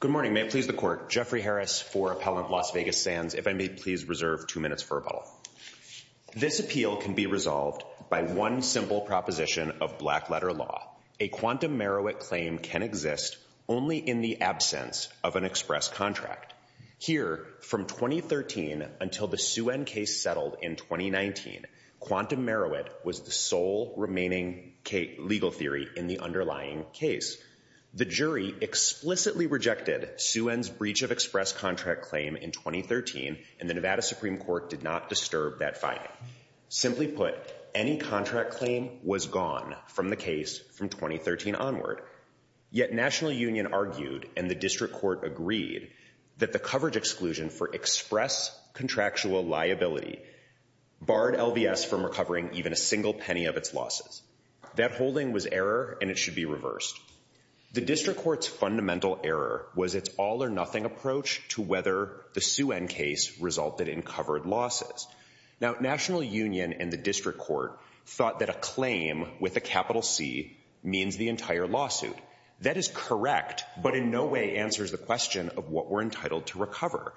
Good morning. May it please the court. Jeffrey Harris for Appellant of Las Vegas Sands. If I may please reserve two minutes for rebuttal. This appeal can be resolved by one simple proposition of black letter law. A quantum merowit claim can exist only in the absence of an express contract. Here, from 2013 until the Sue N case settled in 2019, quantum merowit was the sole remaining legal theory in the underlying case. The jury explicitly rejected Sue N's breach of express contract claim in 2013 and the Nevada Supreme Court did not disturb that finding. Simply put, any contract claim was gone from the case from 2013 onward, yet National Union argued and the District Court agreed that the coverage exclusion for express contractual liability barred LVS from recovering even a single penny of its losses. That holding was error and it should be reversed. The District Court's fundamental error was its all-or-nothing approach to whether the Sue N case resulted in covered losses. Now, National Union and the District Court thought that a claim with a capital C means the entire lawsuit. That is correct, but in no way answers the question of what we're entitled to recover.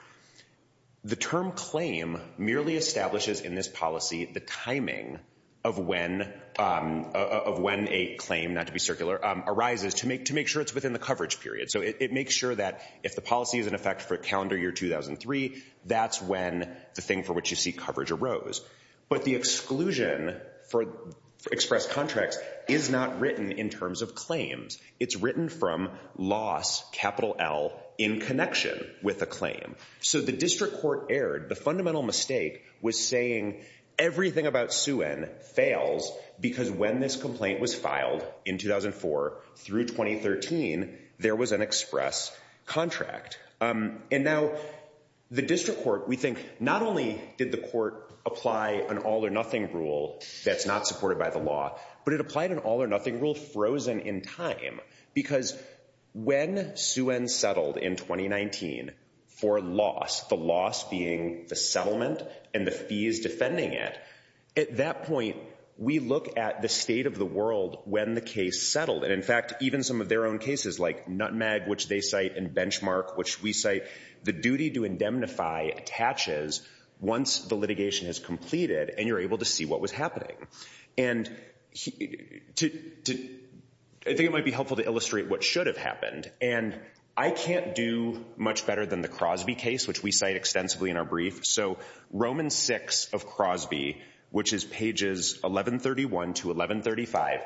The term claim merely establishes in this policy the timing of when a claim, not to be circular, arises to make to make sure it's within the coverage period. So it makes sure that if the policy is in effect for calendar year 2003, that's when the thing for which you see coverage arose. But the exclusion for express contracts is not written in terms of claims. It's written from loss, capital L, in connection with a claim. So the District Court erred. The fundamental mistake was saying everything about Sue N fails because when this complaint was filed in 2004 through 2013, there was an express contract. And now the District Court, we think, not only did the court apply an all-or-nothing rule that's not supported by the law, but it applied an all-or-nothing rule frozen in time because when Sue N settled in 2019 for loss, the loss being the settlement and the fees defending it, at that point we look at the state of the world when the case settled. And in fact, even some of their own cases like Nutmeg, which they cite, and Benchmark, which we cite, the duty to indemnify attaches once the litigation is completed and you're able to see what was happening. And I think it might be helpful to illustrate what should have happened. And I can't do much better than the Crosby case, which we cite extensively in our brief. So Romans 6 of Crosby, which is pages 1131 to 1135,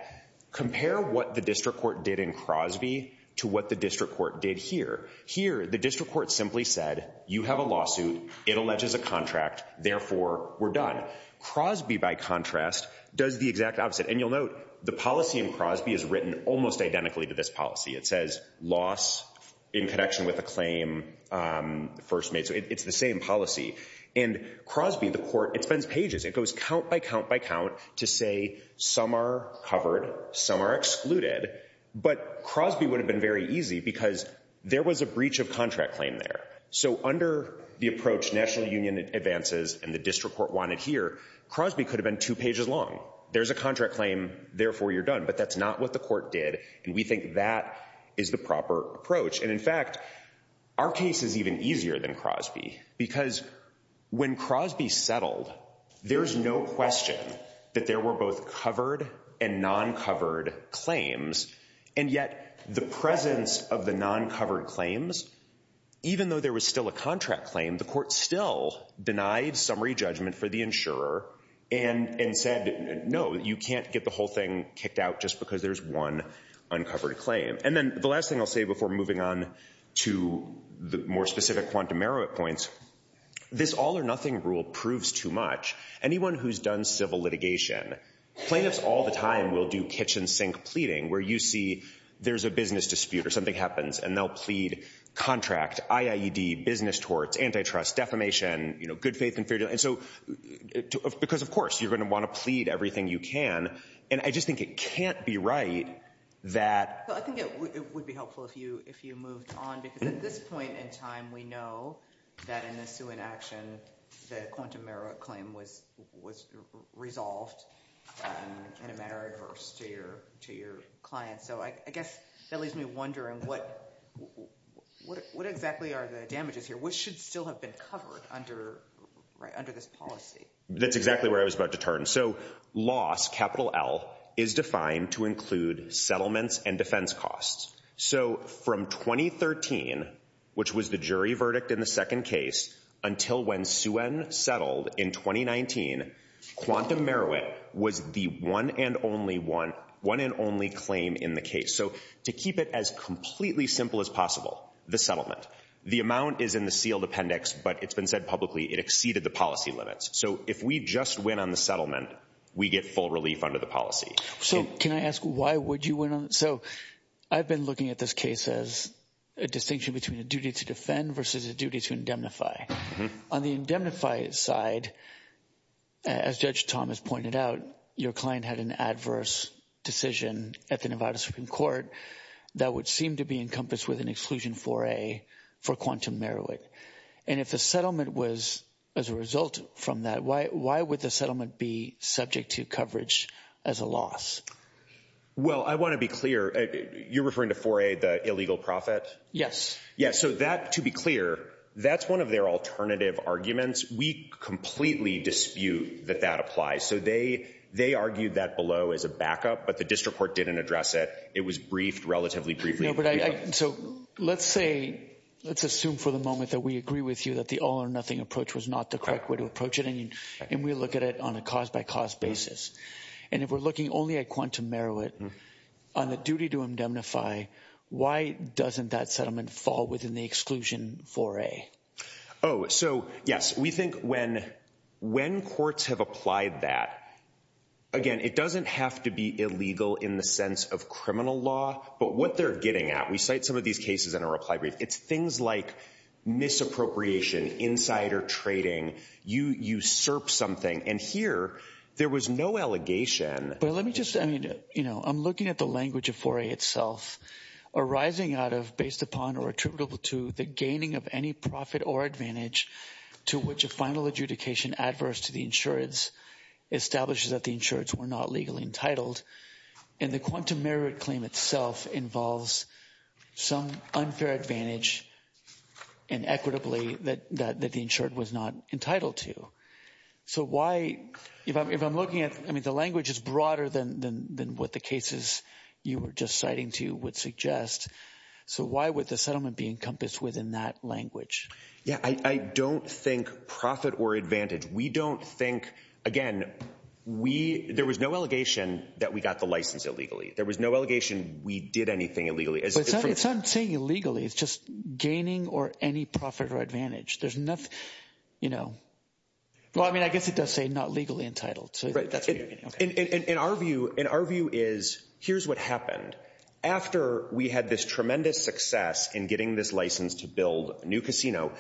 compare what the District Court did in Crosby to what the District Court did here. Here, the District Court simply said, you have a lawsuit. It alleges a contract. Therefore, we're done. Crosby, by contrast, does the exact opposite. And you'll note, the policy in Crosby is written almost identically to this policy. It says, loss in connection with a claim first made. So it's the same policy. And Crosby, the court, it spends pages. It goes count by count by count to say some are covered, some are excluded. But Crosby would have been very easy because there was a breach of contract claim there. So under the approach National Union advances and the District Court wanted here, Crosby could have been two pages long. There's a contract claim, therefore you're done. But that's not what the court did. And we think that is the proper approach. And in fact, our case is even easier than Crosby because when Crosby settled, there's no question that there were both covered and non-covered claims. And yet, the presence of the non-covered claims, even though there was still a contract claim, the court still denied summary judgment for the insurer and said, no, you can't get the whole thing kicked out just because there's one uncovered claim. And then the last thing I'll say before moving on to the more specific quantum merit points, this all-or-nothing rule proves too much. Anyone who's done civil litigation, plaintiffs all the time will do kitchen sink pleading where you see there's a business dispute or something happens and they'll plead contract, IAED, business torts, antitrust, defamation, you know, good faith and fair deal. And so because, of course, you're going to want to plead everything you can. And I just think it can't be right that... I think it would be helpful if you if you moved on because at this point in time, we know that in a suing action, the quantum merit claim was was resolved in a manner adverse to your to your client. So I guess that leaves me wondering what what exactly are the damages here? What should still have been covered under this policy? That's exactly where I was about to turn. So loss, capital L, is defined to include settlements and defense costs. So from 2013, which was the jury verdict in the second case, until when Suen settled in 2019, quantum merit was the one and only one one and only claim in the case. So to keep it as completely simple as possible, the settlement. The amount is in the sealed appendix, but it's been said publicly it exceeded the policy limits. So if we just went on the settlement, we get full relief under the policy. So can I ask why would you went on? So I've been looking at this case as a distinction between a duty to defend versus a duty to indemnify. On the indemnify side, as Judge Thomas pointed out, your client had an adverse decision at the Nevada Supreme Court that would seem to be encompassed with an exclusion for a for quantum merit. And if the settlement was as a result from that, why would the settlement be subject to coverage as a loss? Well, I want to be clear, you're referring to 4A, the illegal profit? Yes. Yeah, so that, to be clear, that's one of their alternative arguments. We completely dispute that that applies. So they they argued that below as a backup, but the district court didn't address it. It was briefed relatively briefly. So let's say, let's assume for the moment that we agree with you that the all or nothing approach was not the correct way to approach it. And we look at it on a cause by cause basis. And if we're looking only at quantum merit on the duty to indemnify, why doesn't that settlement fall within the exclusion 4A? Oh, so yes, we think when when courts have applied that, again, it doesn't have to be illegal in the sense of criminal law, but what they're getting at, we cite some of these cases in our reply brief, it's things like misappropriation, insider trading, you usurp something. And here, there was no allegation. But let me just, I mean, you know, I'm looking at the language of 4A itself, arising out of, based upon, or attributable to, the gaining of any profit or advantage to which a final adjudication adverse to the insurance establishes that the insureds were not legally entitled. And the quantum merit claim itself involves some unfair advantage and equitably that that the insured was not entitled to. So why, if I'm looking at, I mean, the language is broader than what the cases you were just citing to would suggest. So why would the settlement be encompassed within that language? Yeah, I think, again, we, there was no allegation that we got the license illegally. There was no allegation we did anything illegally. It's not saying illegally, it's just gaining or any profit or advantage. There's enough, you know, well, I mean, I guess it does say not legally entitled. In our view, in our view is, here's what happened. After we had this tremendous success in getting this license to build a new casino,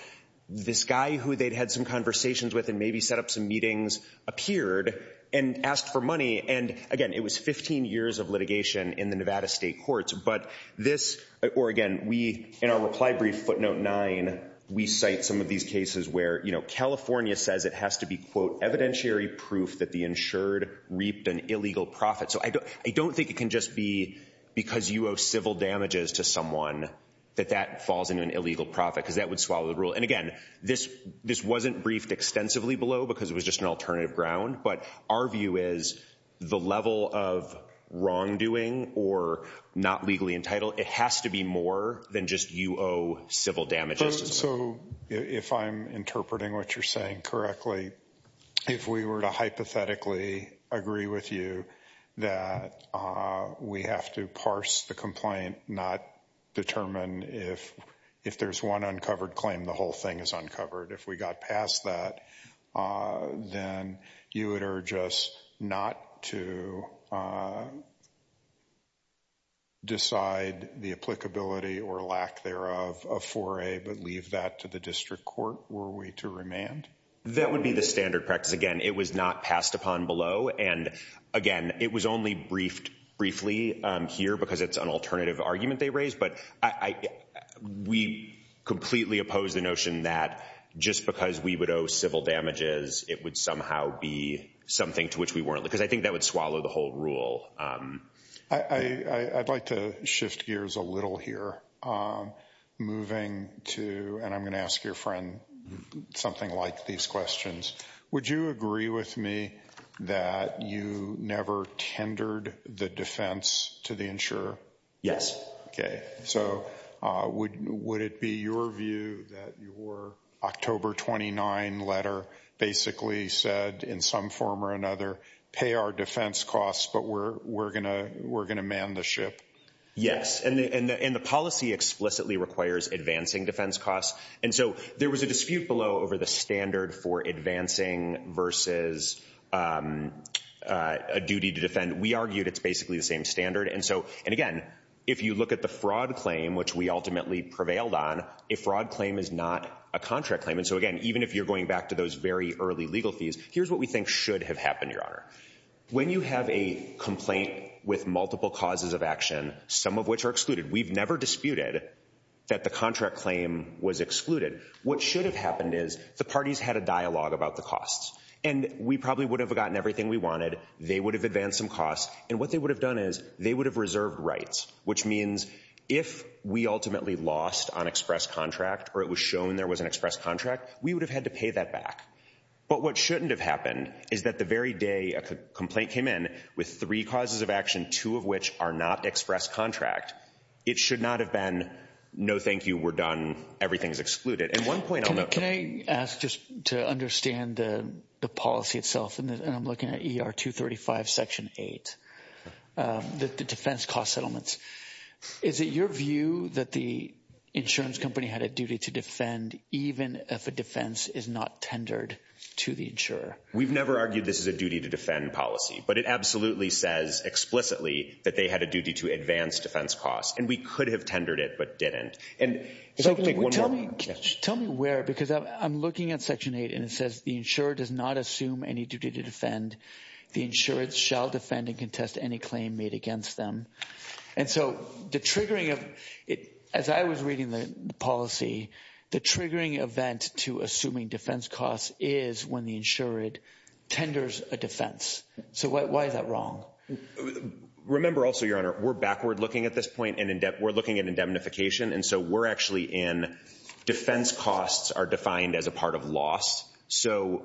this guy who they'd had some conversations with and maybe set up some meetings, appeared and asked for money. And again, it was 15 years of litigation in the Nevada state courts. But this, or again, we, in our reply brief footnote 9, we cite some of these cases where, you know, California says it has to be, quote, evidentiary proof that the insured reaped an illegal profit. So I don't, I don't think it can just be because you owe civil damages to someone that that falls into an illegal profit because that would swallow the rule. And it was just an alternative ground. But our view is the level of wrongdoing or not legally entitled, it has to be more than just you owe civil damages. So if I'm interpreting what you're saying correctly, if we were to hypothetically agree with you that we have to parse the complaint, not determine if, if there's one uncovered claim, the whole thing is uncovered, if we got past that, then you would urge us not to decide the applicability or lack thereof of 4A, but leave that to the district court, were we to remand? That would be the standard practice. Again, it was not passed upon below. And again, it was only briefed briefly here because it's an alternative argument they raised, but I, we completely oppose the notion that just because we would owe civil damages, it would somehow be something to which we weren't. Because I think that would swallow the whole rule. I'd like to shift gears a little here, moving to, and I'm gonna ask your friend something like these questions, would you agree with me that you never tendered the defense to the insurer? Yes. Okay, so would, would it be your view that your October 29 letter basically said in some form or another, pay our defense costs, but we're, we're gonna, we're gonna man the ship? Yes, and the, and the policy explicitly requires advancing defense costs, and so there was a dispute below over the standard for advancing versus a duty to defend. We argued it's basically the same standard, and so, and again, if you look at the fraud claim, which we ultimately prevailed on, a fraud claim is not a contract claim. And so again, even if you're going back to those very early legal fees, here's what we think should have happened, Your Honor. When you have a complaint with multiple causes of action, some of which are excluded, we've never disputed that the contract claim was excluded. What should have happened is the parties had a dialogue about the costs, and we probably would have gotten everything we wanted, they would have advanced some costs, and what they would have done is they would have reserved rights, which means if we ultimately lost on express contract, or it was shown there was an express contract, we would have had to pay that back. But what shouldn't have happened is that the very day a complaint came in with three causes of action, two of which are not express contract, it should not have been, no thank you, we're done, everything's excluded. And one point I'll note... Can I ask just to understand the policy itself, and I'm looking at ER 235 section 8, the defense cost settlements. Is it your view that the insurance company had a duty to defend even if a defense is not tendered to the insurer? We've never argued this is a duty to defend policy, but it absolutely says explicitly that they had a duty to advance defense costs, and we could have tendered it, but didn't. Tell me where, because I'm looking at section 8, and it says the insurer does not assume any duty to defend, the insurance shall defend and contest any claim made against them. And so the triggering of it, as I was reading the policy, the triggering event to assuming defense costs is when the insured tenders a defense. So why is that wrong? Remember also, Your Honor, we're backward looking at this point, and in depth, we're looking at indemnification, and so we're actually in defense costs are defined as a part of loss. So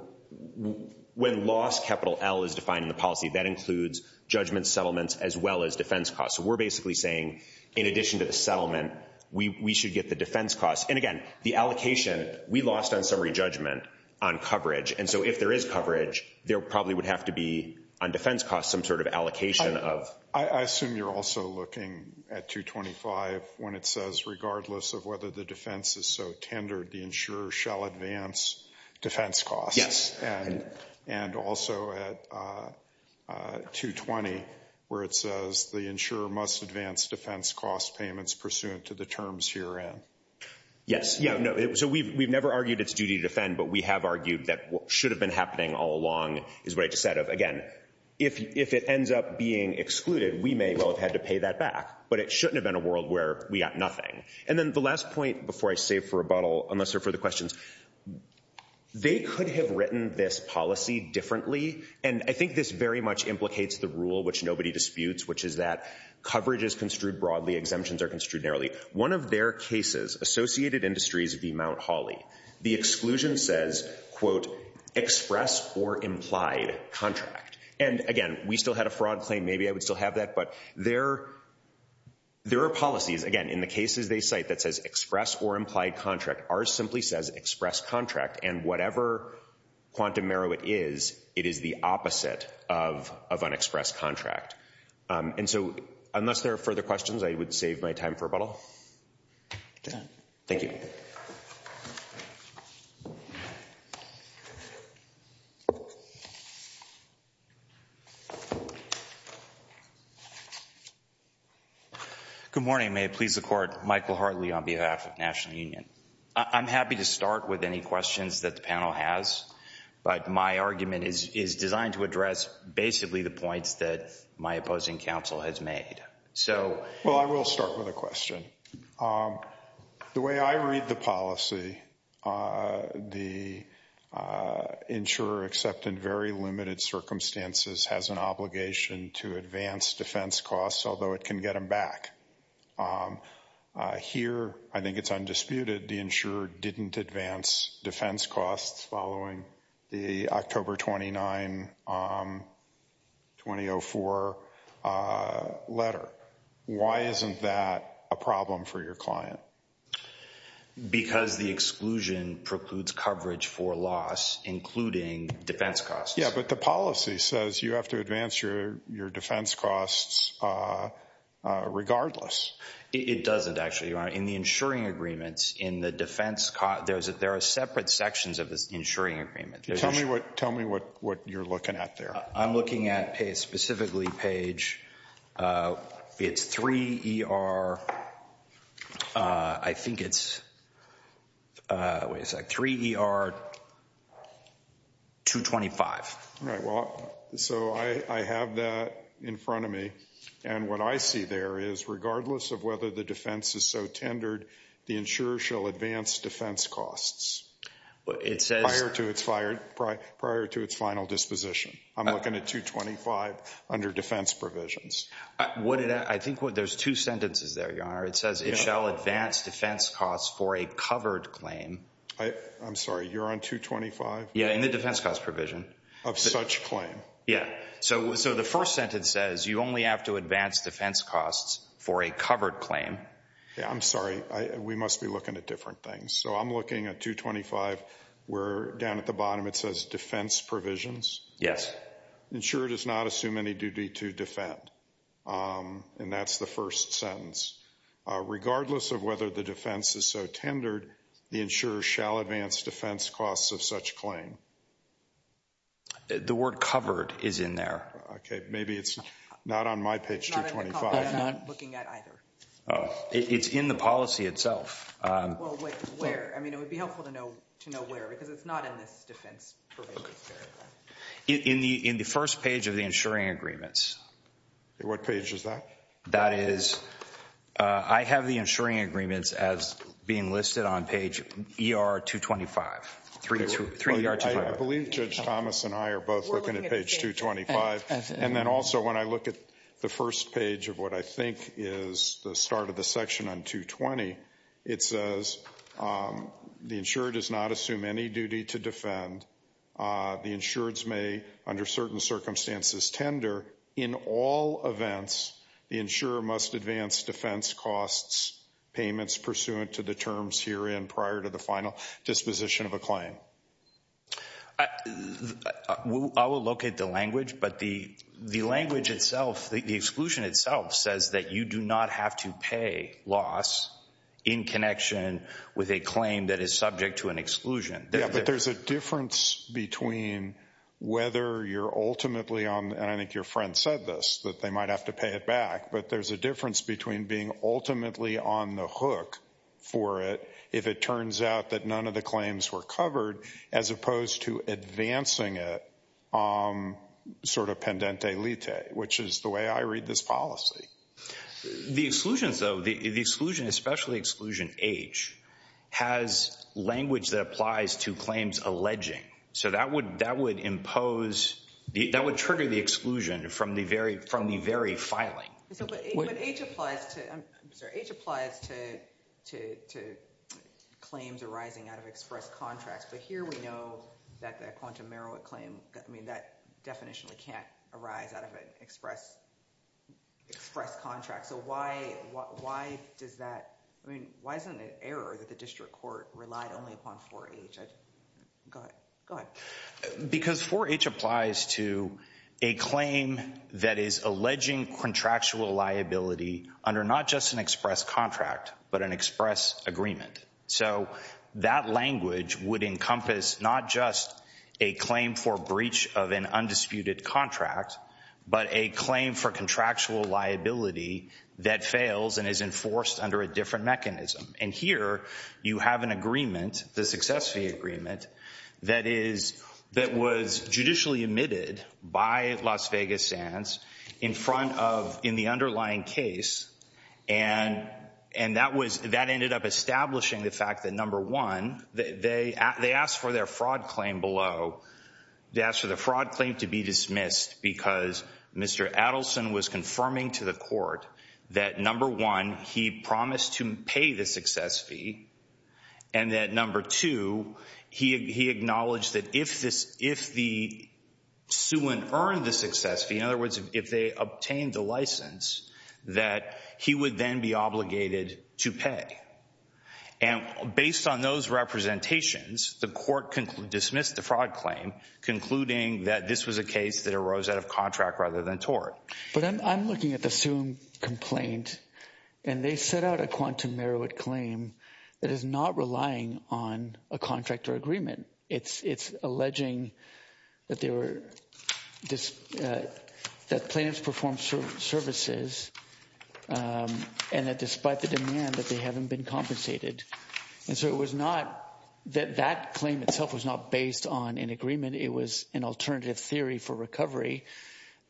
when loss, capital L, is defined in the policy, that includes judgments, settlements, as well as defense costs. So we're basically saying, in addition to the settlement, we should get the defense costs. And again, the allocation, we lost on summary judgment on coverage, and so if there is coverage, there probably would have to be, on defense costs, some sort of allocation of... I assume you're also looking at 225, when it says regardless of whether the defense is so tendered, the insurer shall advance defense costs. Yes. And also at 220, where it says the insurer must advance defense cost payments pursuant to the terms here. Yes, yeah, no, so we've never argued it's duty to defend, but we have argued that what should have been happening all along is what I just said of, again, if it ends up being excluded, we may well have had to pay that back, but it shouldn't have been a world where we got nothing. And then the last point, before I save for a bottle, unless there are further questions, they could have written this policy differently, and I think this very much implicates the rule which nobody disputes, which is that coverage is construed broadly, exemptions are construed narrowly. One of their cases, Associated Industries v. Mount Hawley, the exclusion says, quote, express or implied contract. And again, we still had a fraud claim, maybe I would still have that, but there are policies, again, in the cases they cite that says express or implied contract. Ours simply says express contract, and whatever quantum narrow it is, it is the opposite of an express contract. And so unless there are further questions, I would save my time for a bottle. Thank you. Good morning. May it please the Court, Michael Hartley on behalf of National Union. I'm happy to start with any questions that the panel has, but my argument is designed to address basically the points that my opposing counsel has made. Well, I will start with a question. The way I read the policy, the insurer, except in very limited circumstances, has an obligation to advance defense costs, although it can get them back. Here, I think it's undisputed, the insurer didn't advance defense costs following the October 29, 2004 letter. Why isn't that a problem for your client? Because the exclusion precludes coverage for loss, including defense costs. Yeah, but the policy says you have to advance your defense costs regardless. It doesn't, actually, Your Honor. In the insuring agreements, in the defense costs, there are separate sections of this insuring agreement. Tell me what you're looking at there. I'm looking at, specifically, Page, it's 3ER, I think it's, wait a sec, 3ER 225. Right, well, so I have that in front of me, and what I see there is, regardless of whether the defense is so tendered, the insurer shall advance defense costs prior to its final disposition. I'm looking at 225 under defense provisions. I think there's two sentences there, Your Honor. It says it shall advance defense costs for a covered claim. I'm sorry, you're on 225? Yeah, in the defense cost provision. Of such claim. Yeah, so the first sentence says you only have to advance defense costs for a different thing. So I'm looking at 225 where, down at the bottom, it says defense provisions. Yes. Insurer does not assume any duty to defend, and that's the first sentence. Regardless of whether the defense is so tendered, the insurer shall advance defense costs of such claim. The word covered is in there. Okay, maybe it's not on my page 225. It's in the policy itself. Well, where? I mean, it would be helpful to know where, because it's not in this defense provision. In the first page of the insuring agreements. What page is that? That is, I have the insuring agreements as being listed on page ER 225, 3ER 225. I believe Judge Thomas and I are both looking at page 225, and then also when I look at the first page of what I think is the start of the section on 220, it says the insurer does not assume any duty to defend. The insureds may, under certain circumstances, tender. In all events, the insurer must advance defense costs payments pursuant to the terms herein prior to the final disposition of I will look at the language, but the the language itself, the exclusion itself, says that you do not have to pay loss in connection with a claim that is subject to an exclusion. Yeah, but there's a difference between whether you're ultimately on, and I think your friend said this, that they might have to pay it back, but there's a difference between being ultimately on the hook for it if it turns out that none of the claims were covered, as opposed to advancing it sort of pendente lite, which is the way I read this policy. The exclusions, though, the exclusion, especially exclusion H, has language that applies to claims alleging. So that would impose, that would trigger the exclusion from the very filing. So H applies to claims arising out of express contracts, but here we know that the quantum merit claim, I mean, that definitionally can't arise out of an express contract. So why does that, I mean, why isn't it an error that the district court relied only upon 4H? Because 4H applies to a claim that is alleging contractual liability under not just an express contract, but an express agreement. So that language would encompass not just a claim for breach of an undisputed contract, but a claim for contractual liability that fails and is enforced under a different mechanism. And here you have an agreement, the success fee agreement, that was judicially omitted by Las Stands in front of, in the underlying case, and that ended up establishing the fact that, number one, they asked for their fraud claim below, they asked for the fraud claim to be dismissed because Mr. Adelson was confirming to the court that, number one, he promised to pay the success fee, and that, number two, he acknowledged that if the suin earned the success fee, in other words, if they obtained the license, that he would then be obligated to pay. And based on those representations, the court dismissed the fraud claim, concluding that this was a case that arose out of contract rather than tort. But I'm looking at the Suum complaint, and they set out a quantum merit claim that is not relying on a contract or agreement. It's alleging that they were, that plaintiffs performed services, and that despite the demand, that they haven't been compensated. And so it was not, that claim itself was not based on an agreement. It was an alternative theory for recovery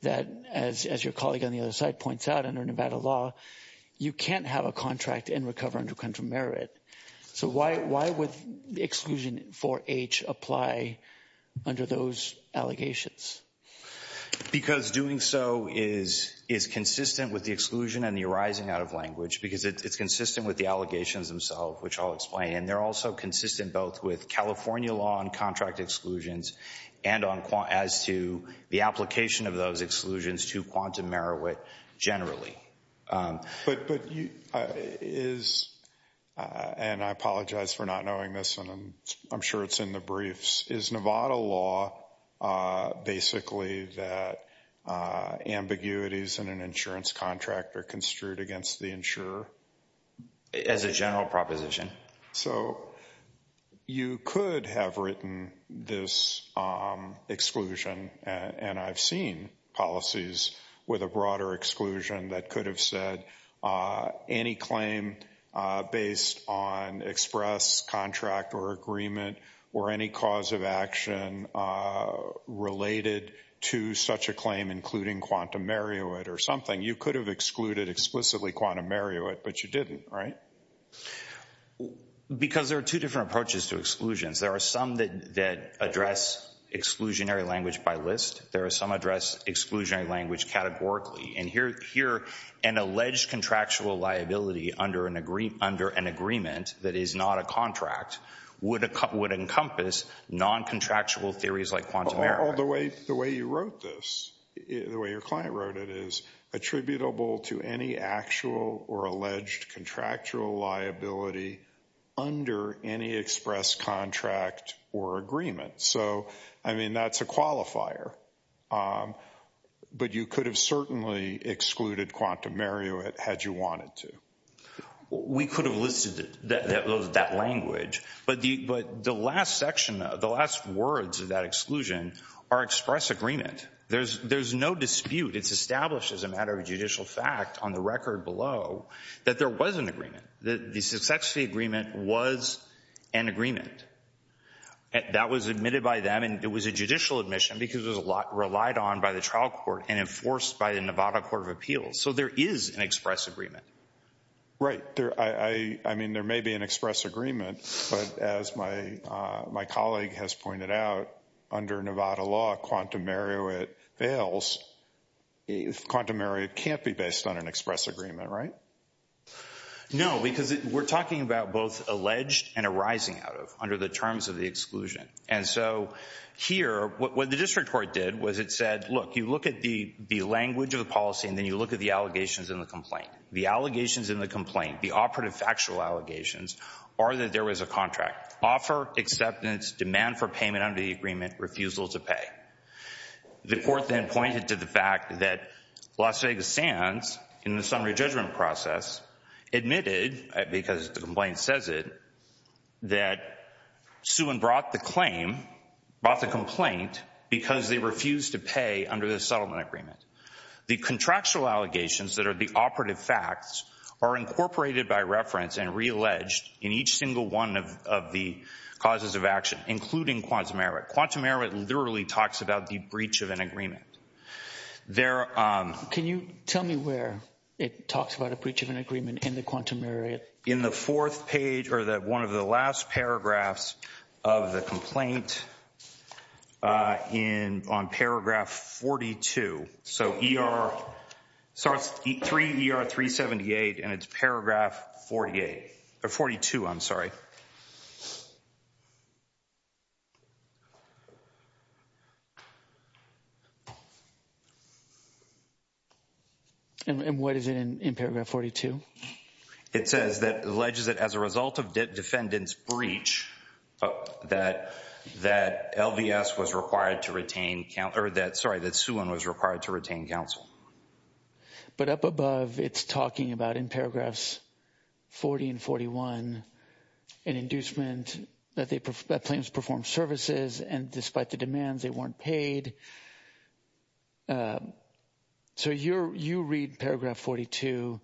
that, as your colleague on the other side points out, under Nevada law, you can't have a contract and recover under contra merit. So why would the exclusion 4H apply under those allegations? Because doing so is consistent with the exclusion and the arising out of language, because it's consistent with the allegations themselves, which I'll explain. And they're also consistent both with California law on contract exclusions and on, as to the application of those exclusions to quantum merit generally. But, but you, is, and I apologize for not knowing this, and I'm sure it's in the briefs, is Nevada law basically that ambiguities in an insurance contract are construed against the insurer? As a general proposition. So you could have written this exclusion, and I've seen policies with a broader exclusion that could have said any claim based on express contract or agreement or any cause of action related to such a claim, including quantum merit or something. You could have excluded explicitly quantum merit, but you didn't, right? Because there are two different approaches to exclusions. There are some that address exclusionary language by list. There are some address exclusionary language categorically. And here, here, an alleged contractual liability under an agreement that is not a contract would encompass non-contractual theories like quantum merit. Or the way, the way you wrote this, the way your client wrote it, is attributable to any actual or alleged contractual liability under any express contract or agreement. So, I mean, that's a qualifier. But you could have certainly excluded quantum merit had you wanted to. We could have listed that language, but the, but the last section, the last words of that exclusion are express agreement. There's, there's no dispute. It's established as a matter of judicial fact on the record below that there was an agreement. That the success of the agreement was an agreement. That was admitted by them and it was a judicial admission because there's a lot relied on by the trial court and enforced by the Nevada Court of Appeals. So there is an express agreement. Right, there, I mean, there may be an express agreement, but as my, my colleague has pointed out, under Nevada law, quantum merit fails. Quantum merit can't be based on an express agreement, right? No, because we're talking about both alleged and arising out of, under the terms of the exclusion. And so, here, what the district court did was it said, look, you look at the, the language of the policy and then you look at the allegations in the complaint. The allegations in the complaint, the operative factual allegations, are that there was a contract. Offer, acceptance, demand for payment under the agreement, refusal to pay. The court then pointed to the fact that Las Vegas Sands, in the summary judgment process, admitted, because the complaint says it, that Suen brought the claim, brought the complaint, because they refused to pay under the settlement agreement. The contractual allegations that are the operative facts are incorporated by reference and re-alleged in each single one of the causes of action, including quantum merit. Quantum merit literally talks about the breach of an agreement. There, um... Can you tell me where it talks about a breach of an agreement in the quantum merit? In the fourth page, or that one of the last paragraphs of the complaint, uh, in, on paragraph 42. So, ER, so it's 3 ER 378 and it's paragraph 48, or 42, I'm sorry. And what is it in, in paragraph 42? It says that, alleges that as a result of defendant's breach, that, that LVS was required to retain, or that, sorry, that Suen was required to retain counsel. But up above, it's talking about, in the settlement, that they, that claims perform services, and despite the demands, they weren't paid. So you're, you read paragraph 42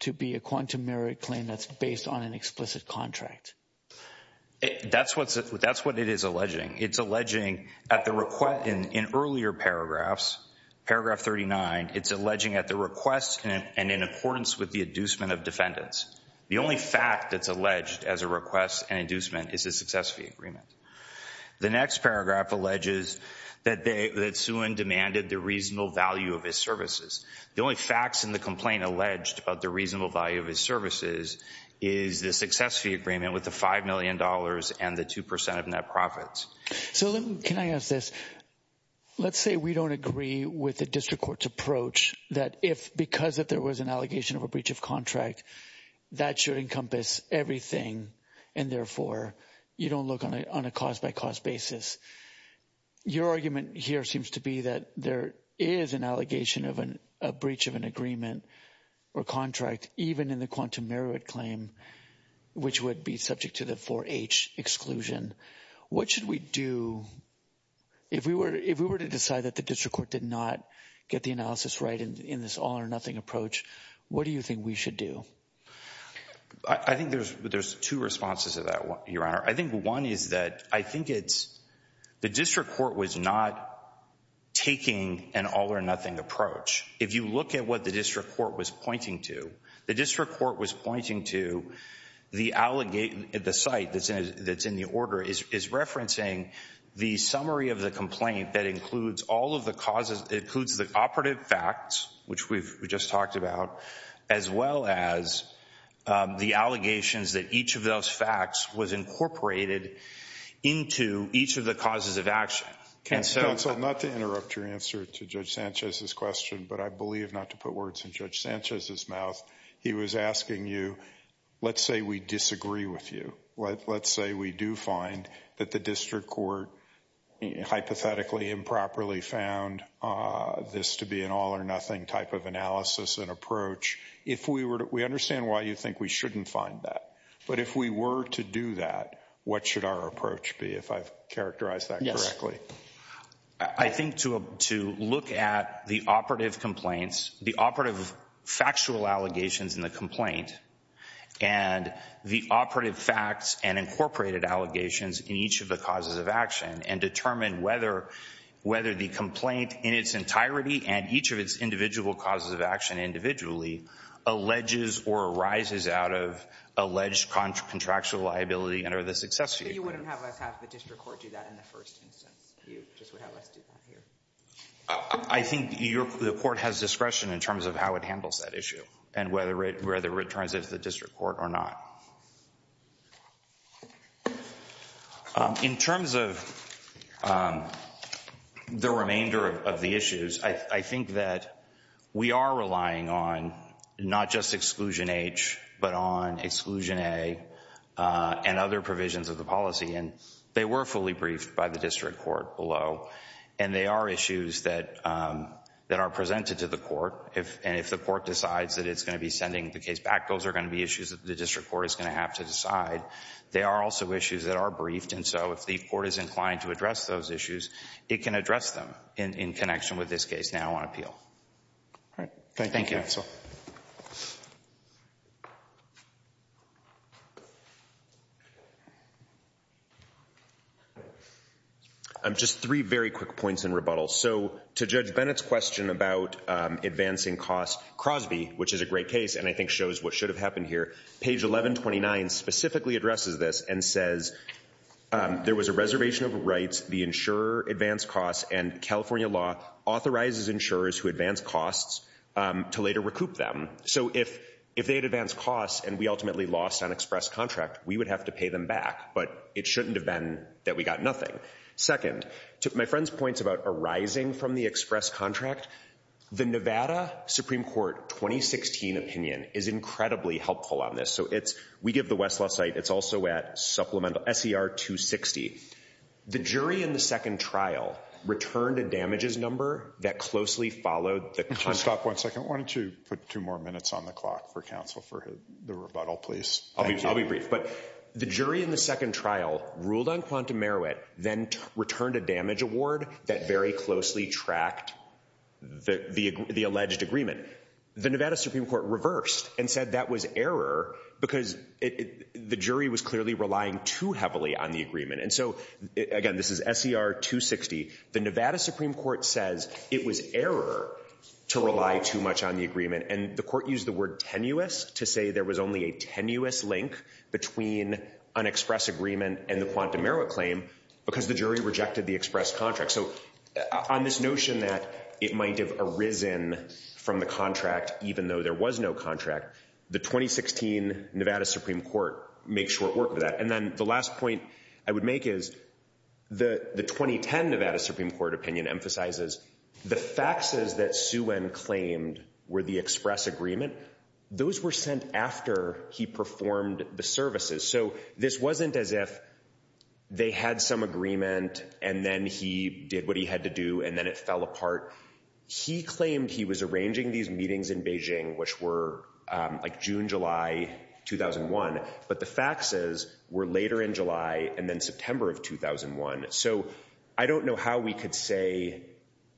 to be a quantum merit claim that's based on an explicit contract. That's what's, that's what it is alleging. It's alleging at the request, in, in earlier paragraphs, paragraph 39, it's alleging at the request and in accordance with the inducement of The only fact that's alleged as a request and inducement is a success fee agreement. The next paragraph alleges that they, that Suen demanded the reasonable value of his services. The only facts in the complaint alleged about the reasonable value of his services is the success fee agreement with the $5 million and the 2% of net profits. So let me, can I ask this? Let's say we don't agree with the district court's approach that if, because if there was an allegation of a breach of contract, that should encompass everything, and therefore, you don't look on a, on a cause by cause basis. Your argument here seems to be that there is an allegation of an, a breach of an agreement or contract, even in the quantum merit claim, which would be subject to the 4H exclusion. What should we do if we were, if we were to decide that the district court did not get the analysis right in this all or nothing approach? What do you think we should do? I, I think there's, there's two responses to that, Your Honor. I think one is that I think it's, the district court was not taking an all or nothing approach. If you look at what the district court was pointing to, the district court was pointing to the allegation, the site that's in, that's in the order is, is referencing the summary of the complaint that includes all of the causes, includes the operative facts, which we've just talked about, as well as the allegations that each of those facts was incorporated into each of the causes of action. And so... Counsel, not to interrupt your answer to Judge Sanchez's question, but I believe not to put words in Judge Sanchez's mouth, he was asking you, let's say we disagree with you. Let's say we do find that the district court hypothetically improperly found this to be an all-or-nothing type of analysis and approach. If we were to, we understand why you think we shouldn't find that, but if we were to do that, what should our approach be, if I've characterized that correctly? Yes. I think to, to look at the operative complaints, the operative factual allegations in the complaint, and the operative facts and incorporated allegations in each of the causes of action, and determine whether, whether the complaint in its entirety and each of its individual causes of action individually, alleges or arises out of alleged contractual liability and are the success for you. But you wouldn't have us have the district court do that in the first instance. You just would have us do that here. I think your, the court has discretion in terms of how it handles that issue, and whether it, whether it returns it to the district court or not. In terms of the remainder of the issues, I think that we are relying on not just Exclusion H, but on Exclusion A and other provisions of the policy, and they were fully briefed by the district court below, and they are issues that, that are presented to the court. If, and if the court decides that it's going to be sending the case back, those are going to be issues that the district court is going to have to decide. They are also issues that are briefed, and so if the court is inclined to address those issues, it can address them in, in connection with this case now on appeal. All right. Thank you, counsel. Just three very quick points in rebuttal. So to Judge Bennett's question about advancing costs, Crosby, which is a great case, and I think shows what should have happened here, page 1129 specifically addresses this and says, there was a reservation of rights, the insurer advanced costs, and California law authorizes insurers who advance costs to later recoup them. So if, if they had advanced costs and we ultimately lost on express contract, we would have to pay them back, but it shouldn't have been that we got nothing. Second, to my friend's points about arising from the express contract, the Nevada Supreme Court 2016 opinion is incredibly helpful on this. So it's, we give the Westlaw site, it's also at supplemental, SER 260. The jury in the second trial returned a damages number that closely followed the contract. Stop, one second. Why don't you put two more minutes on the clock for counsel for the rebuttal, please. I'll be brief, but the jury in the second trial ruled on Quantum Merowet, then returned a damage award that very closely tracked the, the, the alleged agreement, the Nevada Supreme Court reversed and said that was error because it, the jury was clearly relying too heavily on the agreement. And so, again, this is SER 260. The Nevada Supreme Court says it was error to rely too much on the agreement, and the court used the word tenuous to say there was only a tenuous link between an express agreement and the Quantum Merowet claim because the jury rejected the express contract. So on this notion that it might have arisen from the contract, even though there was no contract, the 2016 Nevada Supreme Court makes short work of that. And then the last point I would make is the, the 2010 Nevada Supreme Court opinion emphasizes the faxes that Suen claimed were the express agreement. And those were sent after he performed the services. So this wasn't as if they had some agreement and then he did what he had to do and then it fell apart. He claimed he was arranging these meetings in Beijing, which were like June, July 2001, but the faxes were later in July and then September of 2001. So I don't know how we could say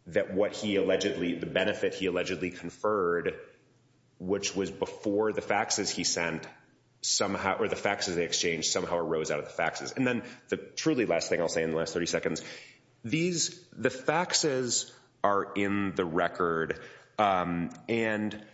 that what he allegedly, the benefit he allegedly conferred, which was before the faxes he sent, somehow, or the faxes they exchanged, somehow arose out of the faxes. And then the truly last thing I'll say in the last 30 seconds, these, the faxes are in the record. And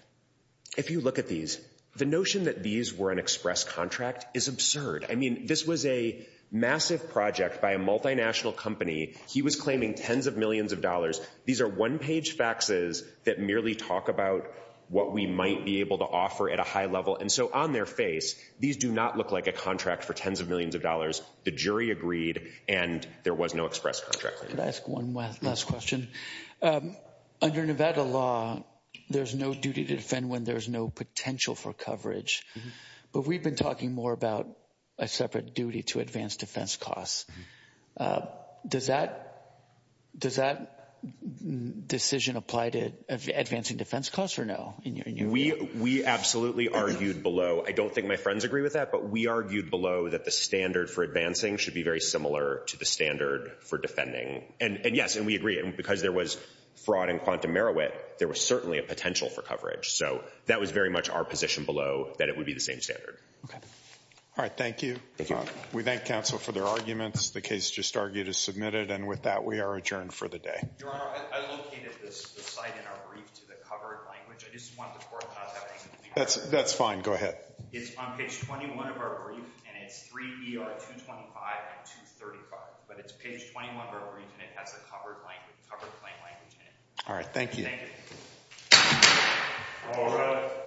if you look at these, the notion that these were an express contract is absurd. I mean, this was a massive project by a multinational company. He was claiming tens of millions of dollars. These are one page faxes that merely talk about what we might be able to offer at a high level. And so on their face, these do not look like a contract for tens of millions of dollars. The jury agreed and there was no express contract. Could I ask one last question? Under Nevada law, there's no duty to defend when there's no potential for coverage. But we've been talking more about a separate duty to advance defense costs. Does that decision apply to advancing defense costs or no? We absolutely argued below. I don't think my friends agree with that, but we argued below that the standard for advancing should be very similar to the standard for defending. And yes, and we agree. Because there was fraud and quantum merit, there was certainly a potential for coverage. So that was very much our position below that it would be the same standard. All right. Thank you. We thank counsel for their arguments. The case just argued is submitted. And with that, we are adjourned for the day. Your Honor, I located the site in our brief to the covered language. I just want the court not to have anything to do with it. That's fine. Go ahead. It's on page 21 of our brief and it's 3 ER 225 and 235. But it's page 21 of our brief and it has a covered language, covered claim language in it. All right. Thank you. Thank you.